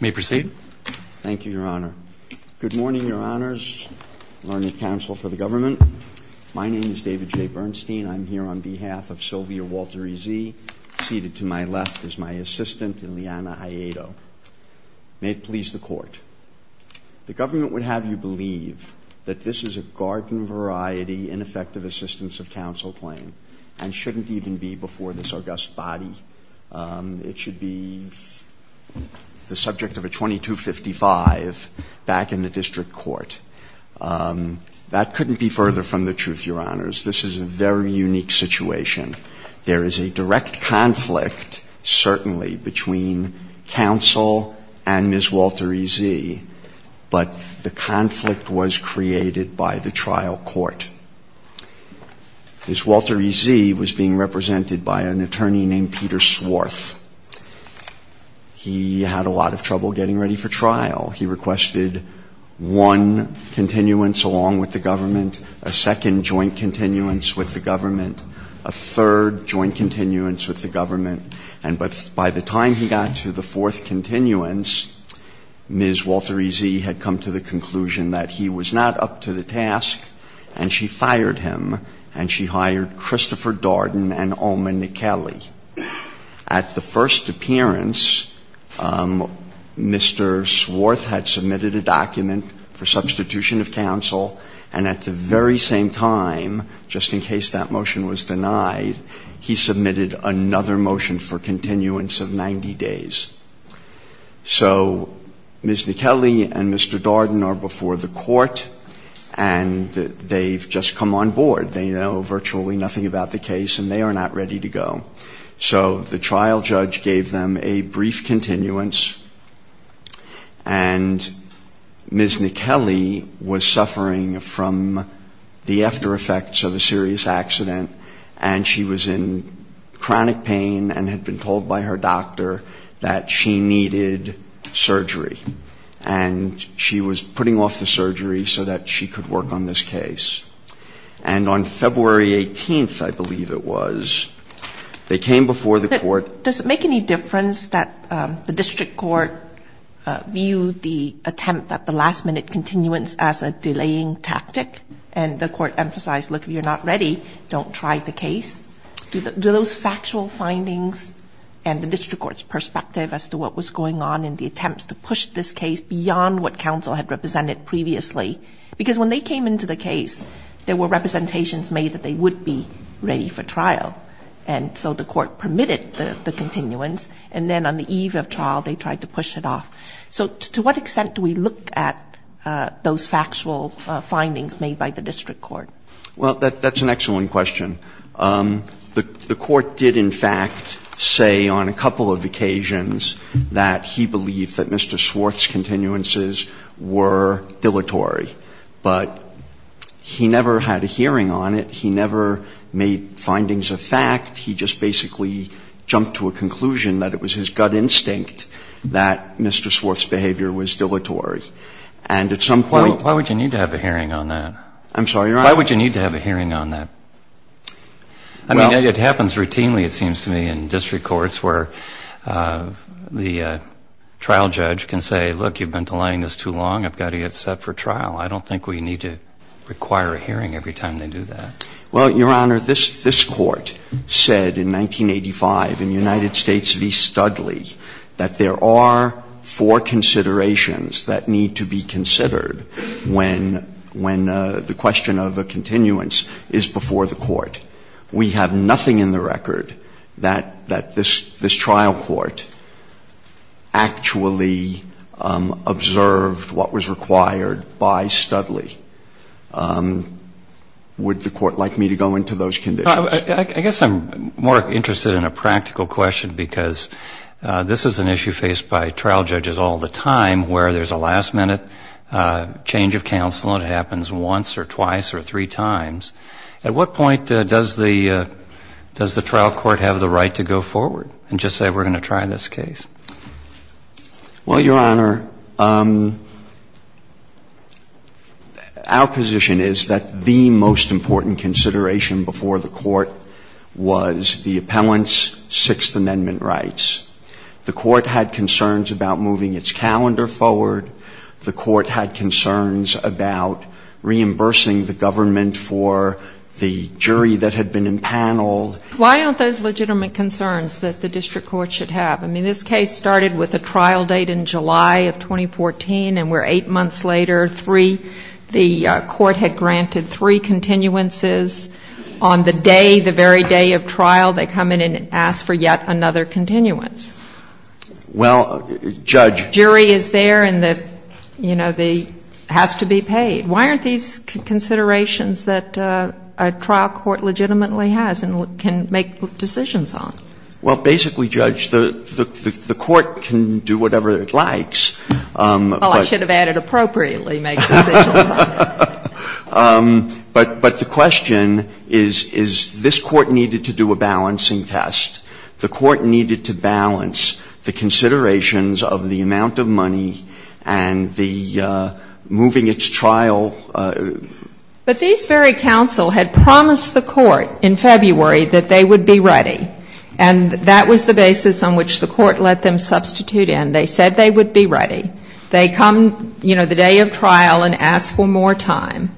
May I proceed? Thank you, Your Honor. Good morning, Your Honors. Learned Counsel for the Government. My name is David J. Bernstein. I'm here on behalf of Sylvia Walter-Eze, seated to my left is my assistant, Ileana Aiedo. May it please the Court. The government would have you believe that this is a garden-variety, ineffective assistance of counsel claim and shouldn't even be before this august body. It should be the subject of a 2255 back in the district court. That couldn't be further from the truth, Your Honors. This is a very unique situation. There is a direct conflict, certainly, between counsel and Ms. Walter-Eze, but the conflict was created by the trial court. Ms. Walter-Eze was being represented by an attorney named Peter Swarth. He had a lot of trouble getting ready for trial. He requested one continuance along with the government, a second joint continuance with the government, a third joint continuance with the government, and by the time he got to the fourth continuance, Ms. Walter-Eze had come to the conclusion that he was not up to the task, and she fired him, and she hired Christopher Darden and Oma Nicali. At the first appearance, Mr. Swarth had submitted a document for substitution of counsel, and at the very same time, just in case that motion was denied, he submitted another motion for continuance of 90 days. So Ms. Nicali and Mr. Darden are before the court, and they've just come on board. They know virtually nothing about the case, and they are not ready to go. So the trial judge gave them a brief continuance, and Ms. Nicali was suffering from the aftereffects of a serious accident, and she was in chronic pain and had been told by her doctor that she needed surgery. And she was putting off the surgery so that she could work on this case. And on February 18th, I believe it was, they came before the court. Does it make any difference that the district court viewed the attempt at the last-minute continuance as a delaying tactic? And the court emphasized, look, if you're not ready, don't try the case. Do those factual findings and the district court's perspective as to what was going on in the attempts to push this case beyond what counsel had represented previously? Because when they came into the case, there were representations made that they would be ready for trial. And so the court permitted the continuance, and then on the eve of trial, they tried to push it off. So to what extent do we look at those factual findings made by the district court? Well, that's an excellent question. The court did, in fact, say on a couple of occasions that he believed that Mr. Swarth's continuances were dilatory. But he never had a hearing on it. He never made findings of fact. He just basically jumped to a conclusion that it was his gut instinct that Mr. Swarth's behavior was dilatory. And at some point ---- Why would you need to have a hearing on that? I'm sorry, Your Honor. Why would you need to have a hearing on that? I mean, it happens routinely, it seems to me, in district courts where the trial judge can say, look, you've been delaying this too long. I've got to get set for trial. I don't think we need to require a hearing every time they do that. Well, Your Honor, this Court said in 1985 in United States v. Studley that there are four considerations that need to be considered when the question of a continuance is before the court. We have nothing in the record that this trial court actually observed what was required by Studley. Would the Court like me to go into those conditions? I guess I'm more interested in a practical question because this is an issue faced by trial judges all the time where there's a last-minute change of counsel and it happens once or twice or three times. At what point does the trial court have the right to go forward and just say we're going to try this case? Well, Your Honor, our position is that the most important consideration before the court was the appellant's Sixth Amendment rights. The court had concerns about moving its calendar forward. The court had concerns about reimbursing the government for the jury that had been empaneled. Why aren't those legitimate concerns that the district court should have? I mean, this case started with a trial date in July of 2014 and we're eight months later, three the court had granted three continuances. On the day, the very day of trial, they come in and ask for yet another continuance. Well, Judge. The jury is there and, you know, has to be paid. Why aren't these considerations that a trial court legitimately has and can make decisions on? Well, basically, Judge, the court can do whatever it likes. Well, I should have added appropriately make decisions on it. But the question is, is this court needed to do a balancing test? The court needed to balance the considerations of the amount of money and the moving its trial. But these very counsel had promised the court in February that they would be ready and that was the basis on which the court let them substitute in. They said they would be ready. They come, you know, the day of trial and ask for more time.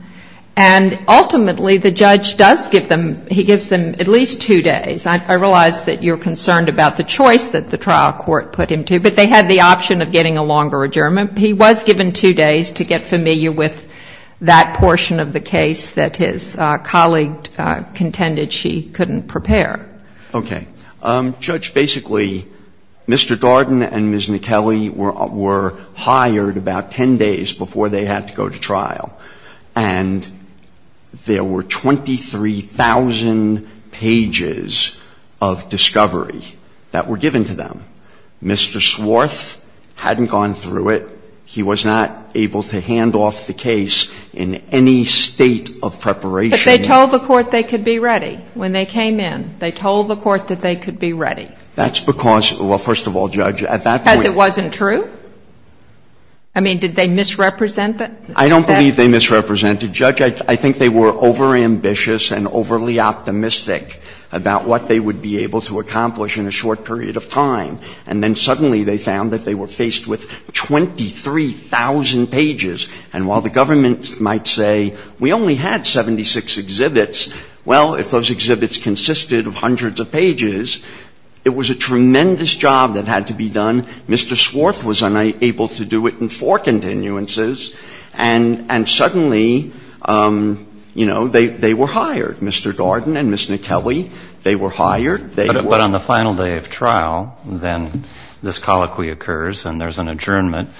And ultimately, the judge does give them, he gives them at least two days. I realize that you're concerned about the choice that the trial court put him to. But they had the option of getting a longer adjournment. He was given two days to get familiar with that portion of the case that his colleague contended she couldn't prepare. Okay. Judge, basically, Mr. Darden and Ms. McKellie were hired about ten days before they had to go to trial. And there were 23,000 pages of discovery that were given to them. Mr. Swarth hadn't gone through it. He was not able to hand off the case in any state of preparation. But they told the court they could be ready when they came in. They told the court that they could be ready. That's because, well, first of all, Judge, at that point — Because it wasn't true? I mean, did they misrepresent it? I don't believe they misrepresented. Judge, I think they were overambitious and overly optimistic about what they would be able to accomplish in a short period of time. And then suddenly they found that they were faced with 23,000 pages. And while the government might say we only had 76 exhibits, well, if those exhibits consisted of hundreds of pages, it was a tremendous job that had to be done. Mr. Swarth was unable to do it in four continuances. And suddenly, you know, they were hired, Mr. Darden and Ms. McKellie. They were hired. But on the final day of trial, then this colloquy occurs and there's an adjournment.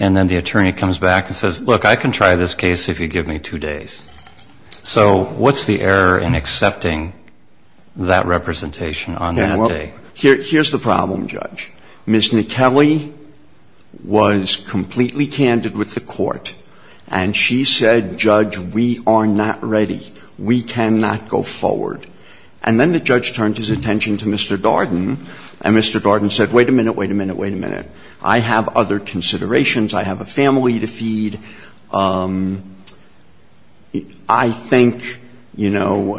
And then the attorney comes back and says, look, I can try this case if you give me two days. So what's the error in accepting that representation on that day? Here's the problem, Judge. Ms. McKellie was completely candid with the court. And she said, Judge, we are not ready. We cannot go forward. And then the judge turned his attention to Mr. Darden. And Mr. Darden said, wait a minute, wait a minute, wait a minute. I have other considerations. I have a family to feed. I think, you know,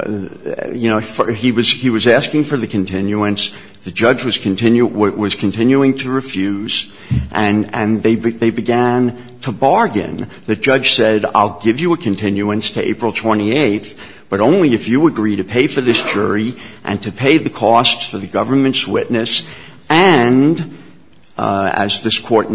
he was asking for the continuance. The judge was continuing to refuse. And they began to bargain. The judge said, I'll give you a continuance to April 28th, but only if you agree to pay for this jury and to pay the costs for the government's witness and, as this were, the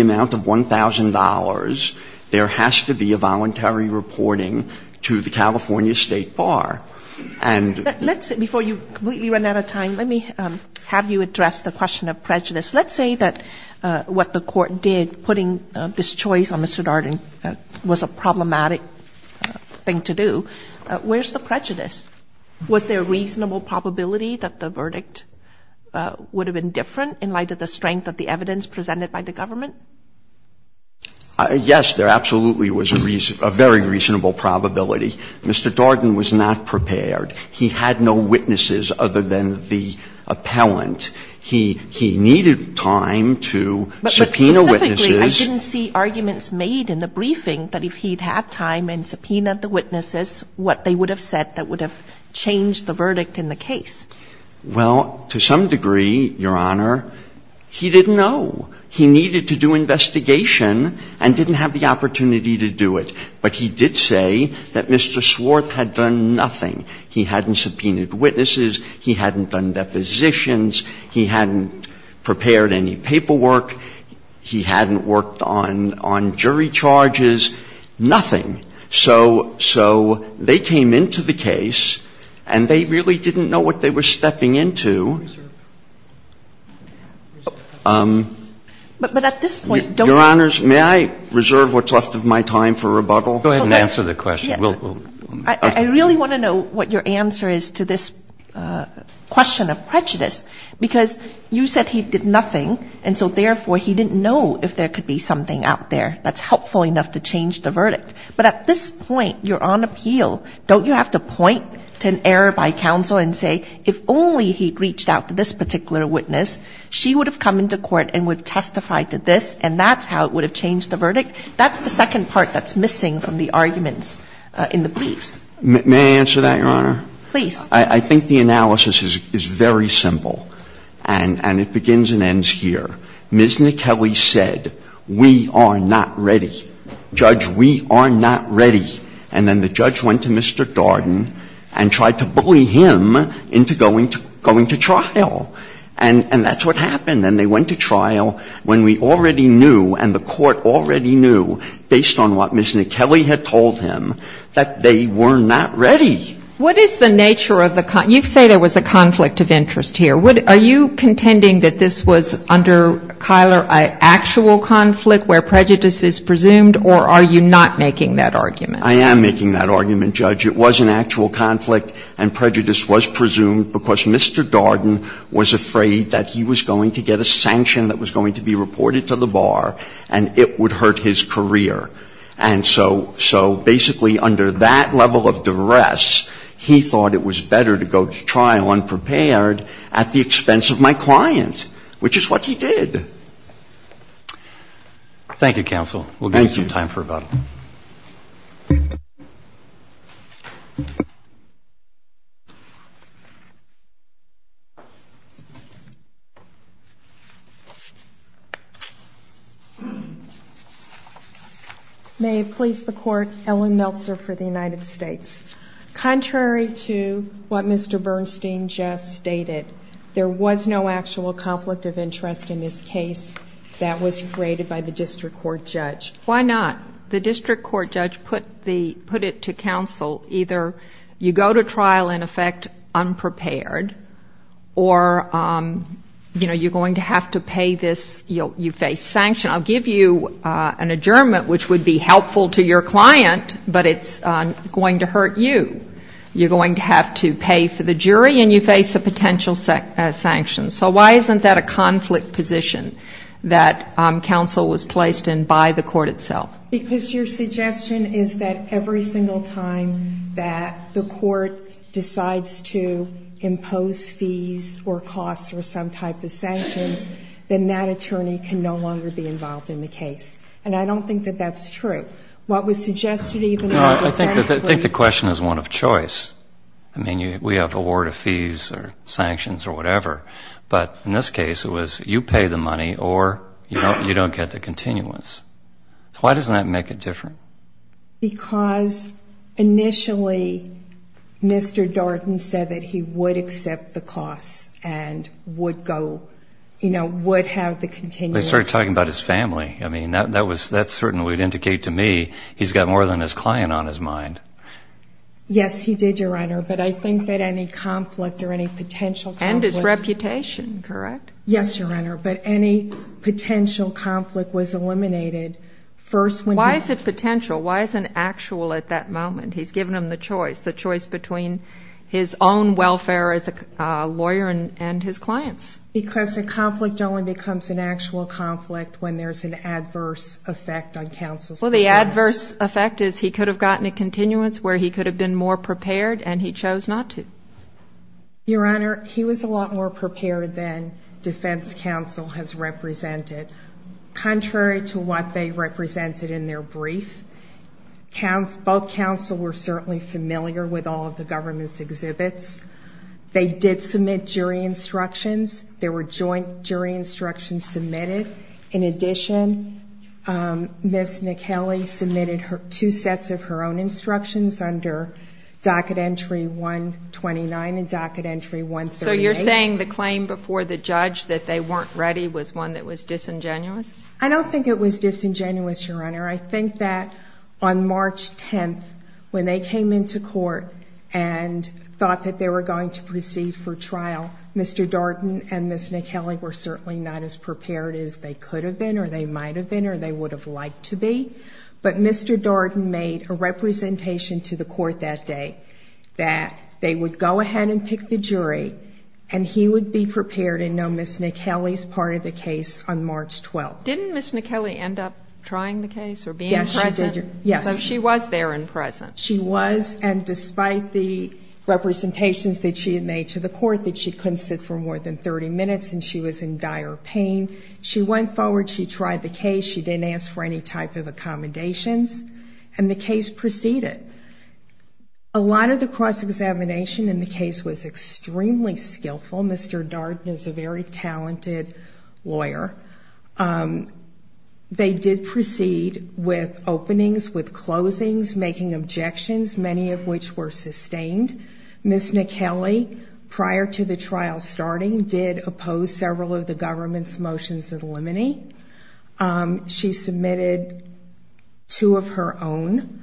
amount of $1,000, there has to be a voluntary reporting to the California State Bar. And the judge said we were not ready. But, you know, the judge said, wait a minute, wait a minute. I have other considerations. And here's the problem, Judge. The judge was continuing to refuse. And the judge said, wait a minute, wait a minute. I have other considerations. I think, you know, the judge was continuing to refuse. Is there a reason for this refusal to pursue? Yes. There absolutely was a very reasonable probability. Mr. Darden was not prepared. He had no witnesses other than the appellant. He needed time to subpoena witnesses. But specifically, I didn't see arguments made in the briefing that if he had time and subpoenaed the witnesses, what they would have said that would have changed the verdict in the case. Well, to some degree, Your Honor, he didn't know. He needed to do investigation and didn't have the opportunity to do it. But he did say that Mr. Swarth had done nothing. He hadn't subpoenaed witnesses. He hadn't done depositions. He hadn't prepared any paperwork. He hadn't worked on jury charges. He had no time to do anything. And the reason for that is nothing. So they came into the case, and they really didn't know what they were stepping into. Your Honors, may I reserve what's left of my time for rebuttal? Go ahead and answer the question. I really want to know what your answer is to this question of prejudice, because you said he did nothing, and so, therefore, he didn't know if there could be something out there that's helpful enough to change the verdict. But at this point, you're on appeal. Don't you have to point to an error by counsel and say, if only he had reached out to this particular witness, she would have come into court and would have testified to this, and that's how it would have changed the verdict? That's the second part that's missing from the arguments in the briefs. May I answer that, Your Honor? Please. I think the analysis is very simple, and it begins and ends here. Ms. McKellie said, we are not ready. Judge, we are not ready. And then the judge went to Mr. Darden and tried to bully him into going to trial. And that's what happened. And they went to trial when we already knew and the court already knew, based on what Ms. McKellie had told him, that they were not ready. What is the nature of the conflict? You say there was a conflict of interest here. Are you contending that this was, under Kyler, an actual conflict where prejudice is presumed, or are you not making that argument? I am making that argument, Judge. It was an actual conflict, and prejudice was presumed because Mr. Darden was afraid that he was going to get a sanction that was going to be reported to the bar, and it would hurt his career. And so basically under that level of duress, he thought it was better to go to trial unprepared at the expense of my client, which is what he did. Thank you, counsel. We will give you some time for rebuttal. Thank you. May it please the Court, Ellen Meltzer for the United States. Contrary to what Mr. Bernstein just stated, there was no actual conflict of interest in this case that was created by the district court judge. Why not? could not be held accountable. either you go to trial, in effect, unprepared, or, you know, you're going to have to pay this, you face sanction. I'll give you an adjournment which would be helpful to your client, but it's going to hurt you. You're going to have to pay for the jury, and you face a potential sanction. So why isn't that a conflict position that counsel was placed in by the court itself? Because your suggestion is that every single time that the court decides to impose fees or costs or some type of sanctions, then that attorney can no longer be involved in the case. And I don't think that that's true. What was suggested even though, I think the question is one of choice. I mean, we have award of fees or sanctions or whatever. But in this case, it was you pay the money or you don't get the continuance. Why doesn't that make it different? Because initially Mr. Darden said that he would accept the costs and would go, you know, would have the continuance. But he started talking about his family. I mean, that certainly would indicate to me he's got more than his client on his mind. Yes, he did, Your Honor. But I think that any conflict or any potential conflict. And his reputation, correct? Yes, Your Honor. But any potential conflict was eliminated first. Why is it potential? Why is it actual at that moment? He's given him the choice, the choice between his own welfare as a lawyer and his clients. Because a conflict only becomes an actual conflict when there's an adverse effect on counsel's Well, the adverse effect is he could have gotten a continuance where he could have been more prepared and he chose not to. Your Honor, he was a lot more prepared than defense counsel has represented. Contrary to what they represented in their brief, both counsel were certainly familiar with all of the government's exhibits. They did submit jury instructions. There were joint jury instructions submitted. In addition, Ms. McKellie submitted two sets of her own instructions under Docket Entry 129 and Docket Entry 138. So you're saying the claim before the judge that they weren't ready was one that was disingenuous? I don't think it was disingenuous, Your Honor. I think that on March 10th, when they came into court and thought that they were going to proceed for trial, Mr. Darden and Ms. McKellie were certainly not as prepared as they could have been or they might have been or they would have liked to be. But Mr. Darden made a representation to the court that day that they would go ahead and pick the jury and he would be prepared and know Ms. McKellie's part of the case on March 12th. Didn't Ms. McKellie end up trying the case or being present? Yes, she did. So she was there and present. She was, and despite the representations that she had made to the court that she couldn't sit for more than 30 minutes and she was in dire pain, she went forward, she tried the case, she didn't ask for any type of accommodations, and the case proceeded. A lot of the cross-examination in the case was extremely skillful. Mr. Darden is a very talented lawyer. They did proceed with openings, with closings, making objections, many of which were sustained. Ms. McKellie, prior to the trial starting, did oppose several of the government's motions that eliminate. She submitted two of her own.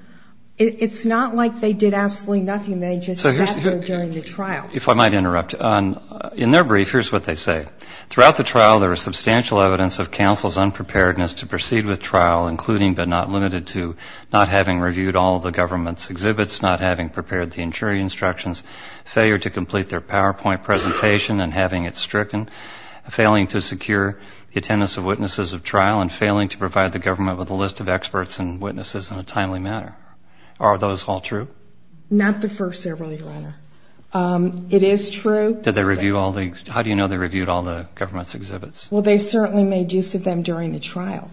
It's not like they did absolutely nothing. They just sat there during the trial. If I might interrupt, in their brief, here's what they say. Throughout the trial, there was substantial evidence of counsel's unpreparedness to proceed with trial, including but not limited to not having reviewed all the government's exhibits, not having prepared the jury instructions, failure to complete their PowerPoint presentation and having it stricken, failing to secure the attendance of witnesses of trial, and failing to provide the government with a list of experts and witnesses in a timely manner. Are those all true? Not the first several, Your Honor. It is true. How do you know they reviewed all the government's exhibits? Well, they certainly made use of them during the trial.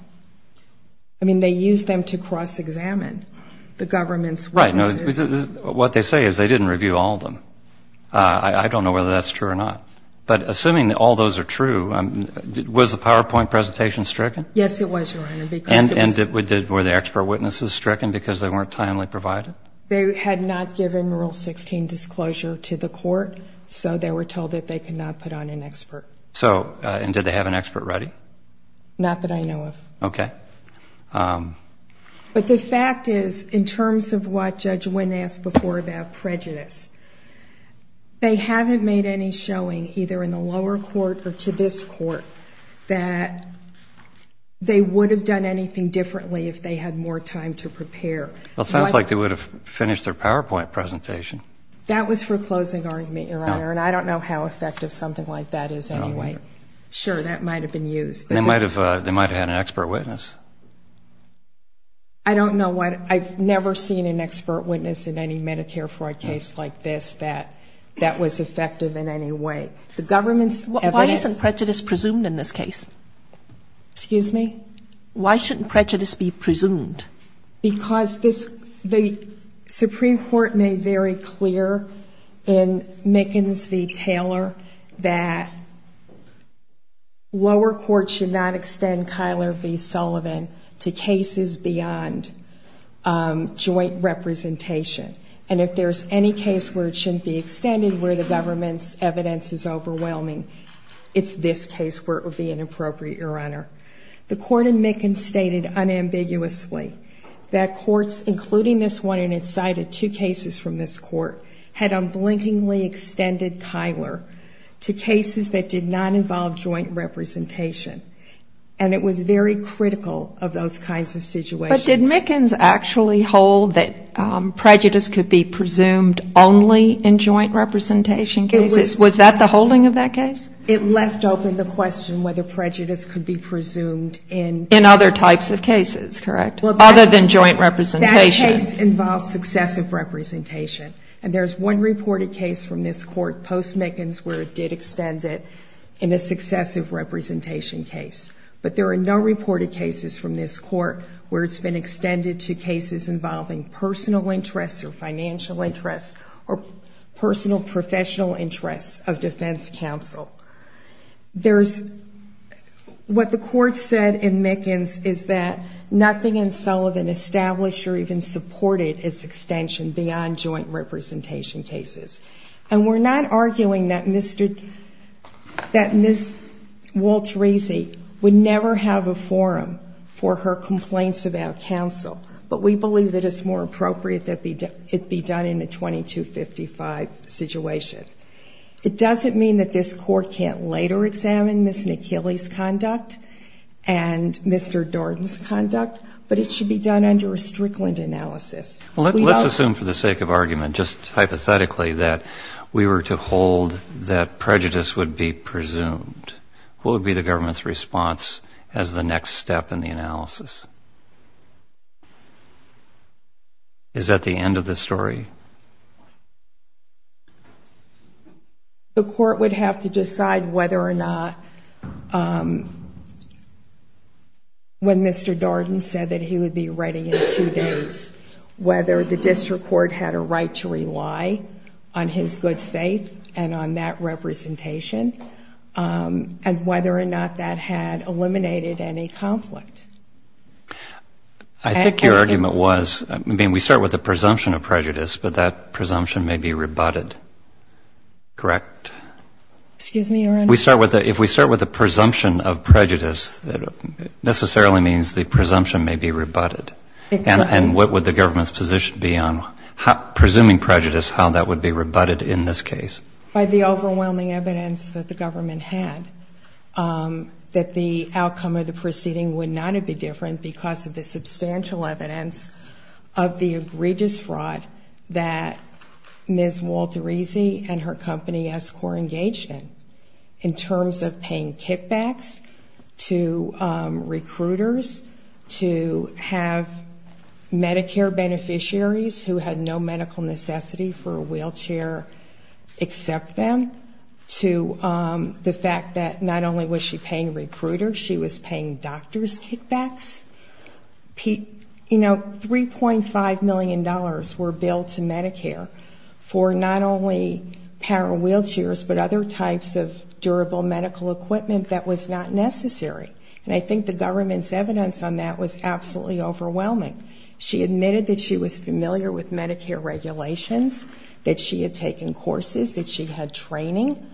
I mean, they used them to cross-examine the government's witnesses. Right. What they say is they didn't review all of them. I don't know whether that's true or not. But assuming all those are true, was the PowerPoint presentation stricken? Yes, it was, Your Honor. And were the expert witnesses stricken because they weren't timely provided? They had not given Rule 16 disclosure to the court, so they were told that they could not put on an expert. And did they have an expert ready? Not that I know of. Okay. But the fact is, in terms of what Judge Wynn asked before about prejudice, they haven't made any showing, either in the lower court or to this court, that they would have done anything differently if they had more time to prepare. Well, it sounds like they would have finished their PowerPoint presentation. That was for a closing argument, Your Honor, and I don't know how effective something like that is anyway. Sure, that might have been used. They might have had an expert witness. I don't know. I've never seen an expert witness in any Medicare fraud case like this that that was effective in any way. Why isn't prejudice presumed in this case? Excuse me? Why shouldn't prejudice be presumed? Because the Supreme Court made very clear in Mickens v. Taylor that lower court should not extend Kyler v. Sullivan to cases beyond joint representation. And if there's any case where it shouldn't be extended, where the government's evidence is overwhelming, it's this case where it would be inappropriate, Your Honor. The court in Mickens stated unambiguously that courts, including this one, and it cited two cases from this court, had unblinkingly extended Kyler to cases that did not involve joint representation. And it was very critical of those kinds of situations. But did Mickens actually hold that prejudice could be presumed only in joint representation cases? Was that the holding of that case? It left open the question whether prejudice could be presumed in In other types of cases, correct? Other than joint representation. That case involves successive representation. And there's one reported case from this court post-Mickens where it did extend it in a successive representation case. But there are no reported cases from this court where it's been extended to cases involving personal interests or financial interests or personal professional interests of defense counsel. What the court said in Mickens is that nothing in Sullivan established or even supported its extension beyond joint representation cases. And we're not arguing that Ms. Walterese would never have a forum for her complaints about counsel. But we believe that it's more appropriate that it be done in a 2255 situation. It doesn't mean that this court can't later examine Ms. McKinley's conduct and Mr. Darden's conduct, but it should be done under a Strickland analysis. Let's assume for the sake of argument, just hypothetically, that we were to hold that prejudice would be presumed. Who would be the government's response as the next step in the analysis? Is that the end of the story? The court would have to decide whether or not when Mr. Darden said that he would be ready in two days, whether the district court had a right to rely on his good faith and on that representation, and whether or not that had eliminated any conflict. I think your argument was, I mean, we start with the presumption of prejudice, but that presumption may be rebutted, correct? Excuse me, Your Honor? If we start with the presumption of prejudice, it necessarily means the presumption may be rebutted. Exactly. And what would the government's position be on presuming prejudice, how that would be rebutted in this case? By the overwhelming evidence that the government had, that the outcome of the proceeding would not have been different because of the substantial evidence of the egregious fraud that Ms. Walterese and her company, Escor, engaged in, in terms of paying kickbacks to recruiters, to have Medicare beneficiaries who had no medical necessity for a wheelchair accept them, to the fact that not only was she paying recruiters, she was paying doctors kickbacks. You know, $3.5 million were billed to Medicare for not only power wheelchairs, but other types of durable medical equipment that was not necessary. And I think the government's evidence on that was absolutely overwhelming. She admitted that she was familiar with Medicare regulations, that she had taken courses, that she had training,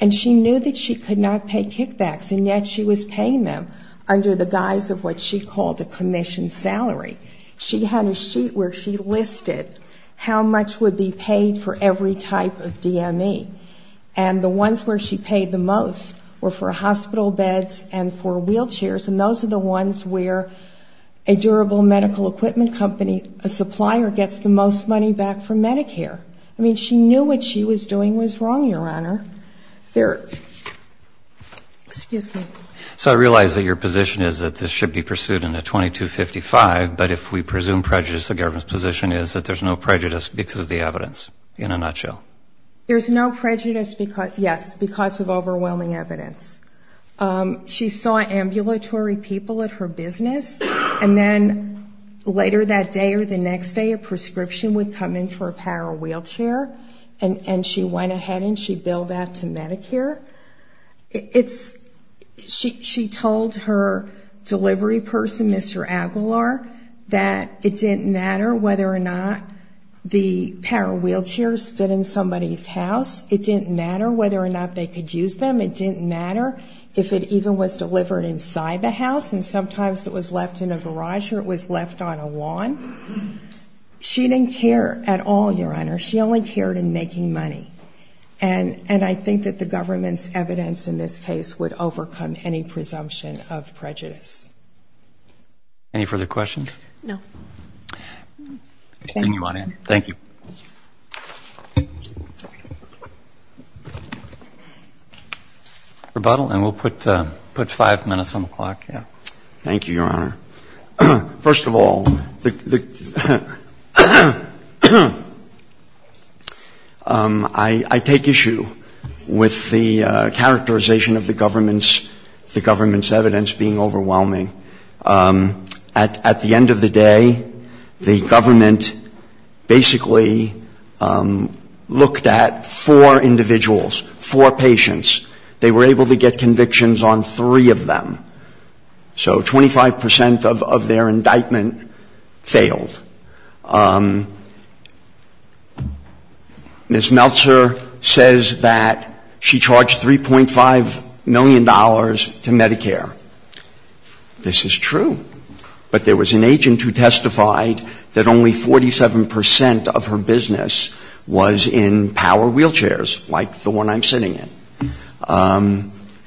and she knew that she could not pay kickbacks, and yet she was paying them under the guise of what she called a commission salary. She had a sheet where she listed how much would be paid for every type of DME, and the ones where she paid the most were for hospital beds and for wheelchairs, and those are the ones where a durable medical equipment company, a supplier gets the most money back from Medicare. I mean, she knew what she was doing was wrong, Your Honor. They're ‑‑ excuse me. So I realize that your position is that this should be pursued in a 2255, but if we presume prejudice, the government's position is that there's no prejudice because of the evidence, in a nutshell. There's no prejudice, yes, because of overwhelming evidence. She saw ambulatory people at her business, and then later that day or the next day a prescription would come in for a power wheelchair, and she went ahead and she billed that to Medicare. It's ‑‑ she told her delivery person, Mr. Aguilar, that it didn't matter whether or not the power wheelchairs fit in somebody's house. It didn't matter whether or not they could use them. It didn't matter if it even was delivered inside the house, and sometimes it was left in a garage or it was left on a lawn. She didn't care at all, Your Honor. She only cared in making money, and I think that the government's evidence in this case would overcome any presumption of prejudice. Any further questions? No. Thank you, Your Honor. Thank you. Rebuttal, and we'll put five minutes on the clock. Thank you, Your Honor. First of all, I take issue with the characterization of the government's evidence being overwhelming. At the end of the day, the government basically looked at four individuals, four patients. They were able to get convictions on three of them. So 25% of their indictment failed. Ms. Meltzer says that she charged $3.5 million to Medicare. This is true. But there was an agent who testified that only 47% of her business was in power wheelchairs, like the one I'm sitting in.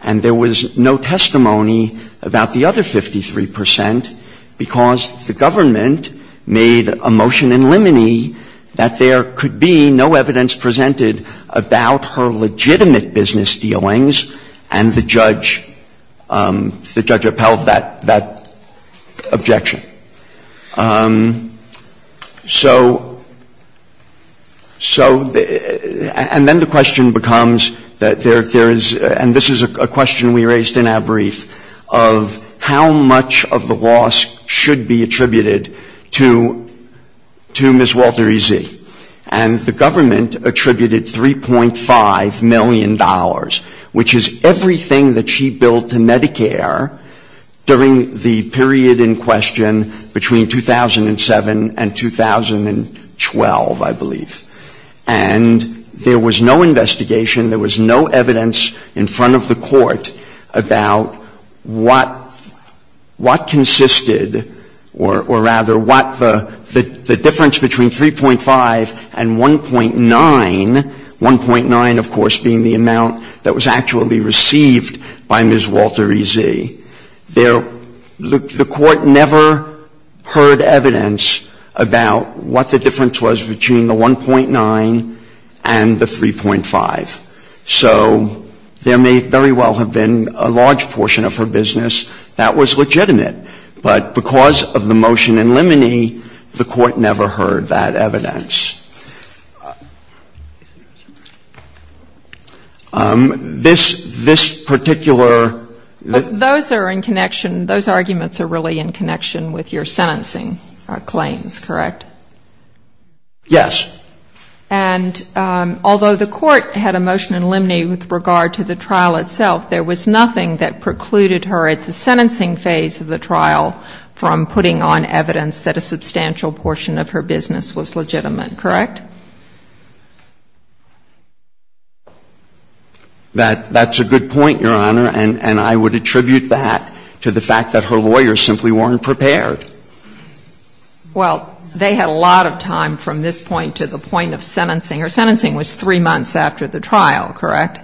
And there was no testimony about the other 53%, because the government made a motion in limine that there could be no evidence presented about her legitimate business dealings, and the judge upheld that objection. So, and then the question becomes that there is, and this is a question we raised in our brief, of how much of the loss should be attributed to Ms. Walter E. Zee. And the government attributed $3.5 million, which is everything that she billed to Medicare during the period in question between 2007 and 2012, I believe. And there was no investigation, there was no evidence in front of the court about what consisted or rather what the difference between 3.5 and 1.9, 1.9 of course being the amount that was actually received by Ms. Walter E. Zee. There, the court never heard evidence about what the difference was between the 1.9 and the 3.5. So there may very well have been a large portion of her business that was legitimate, but because of the motion in limine, the court never heard that evidence. This, this particular. Those are in connection, those arguments are really in connection with your sentencing claims, correct? Yes. And although the court had a motion in limine with regard to the trial itself, there was nothing that precluded her at the sentencing phase of the trial from putting on evidence that a substantial portion of her business was legitimate, correct? That, that's a good point, Your Honor, and I would attribute that to the fact that her lawyers simply weren't prepared. Well, they had a lot of time from this point to the point of sentencing. Her sentencing was three months after the trial, correct?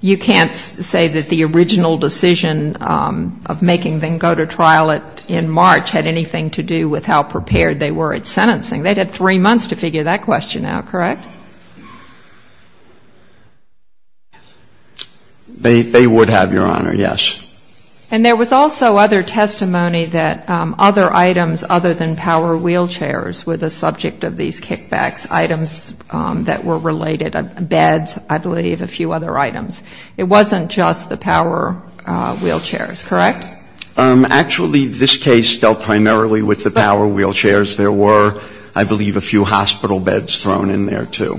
You can't say that the original decision of making them go to trial in March had anything to do with how prepared they were at sentencing. They had three months to figure that question out, correct? They, they would have, Your Honor, yes. And there was also other testimony that other items other than power wheelchairs were the subject of these kickbacks, items that were related, beds, I believe, a few other items. It wasn't just the power wheelchairs, correct? Actually, this case dealt primarily with the power wheelchairs. There were, I believe, a few hospital beds thrown in there, too.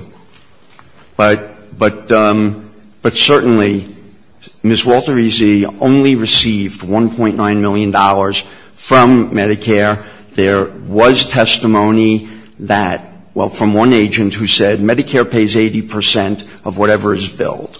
But, but, but certainly Ms. Walter-Easy only received $1.9 million from Medicare. There was testimony that, well, from one agent who said Medicare pays 80 percent of whatever is billed,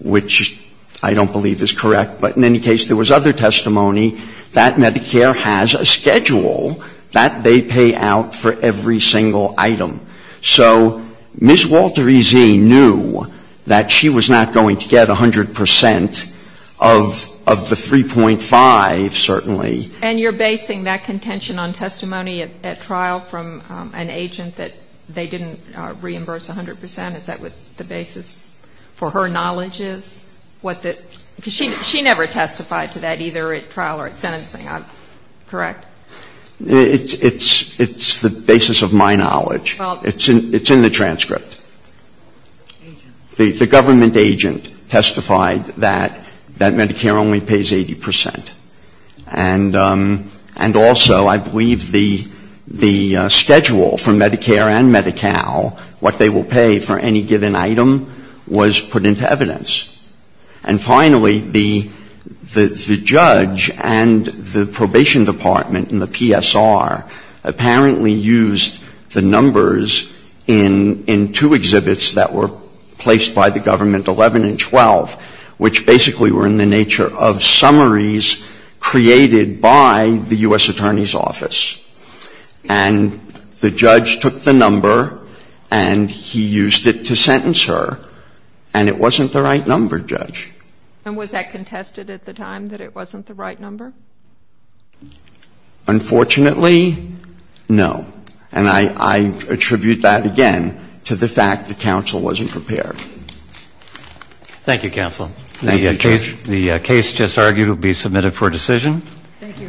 which I don't believe is correct. But in any case, there was other testimony that Medicare has a schedule that they pay out for every single item. So Ms. Walter-Easy knew that she was not going to get 100 percent of, of the 3.5, certainly. And you're basing that contention on testimony at trial from an agent that they didn't reimburse 100 percent? Is that what the basis for her knowledge is? Because she never testified to that either at trial or at sentencing, correct? It's, it's, it's the basis of my knowledge. Well. It's in, it's in the transcript. The, the government agent testified that, that Medicare only pays 80 percent. And, and also I believe the, the schedule for Medicare and Medi-Cal, what they will pay for any given item, was put into evidence. And finally, the, the judge and the probation department and the PSR apparently used the numbers in, in two exhibits that were placed by the government, 11 and 12, which basically were in the nature of summaries created by the U.S. Attorney's Office. And the judge took the number and he used it to sentence her. And it wasn't the right number, Judge. And was that contested at the time that it wasn't the right number? Unfortunately, no. And I, I attribute that again to the fact that counsel wasn't prepared. Thank you, Counsel. Thank you, Judge. The case just argued will be submitted for decision. Thank you.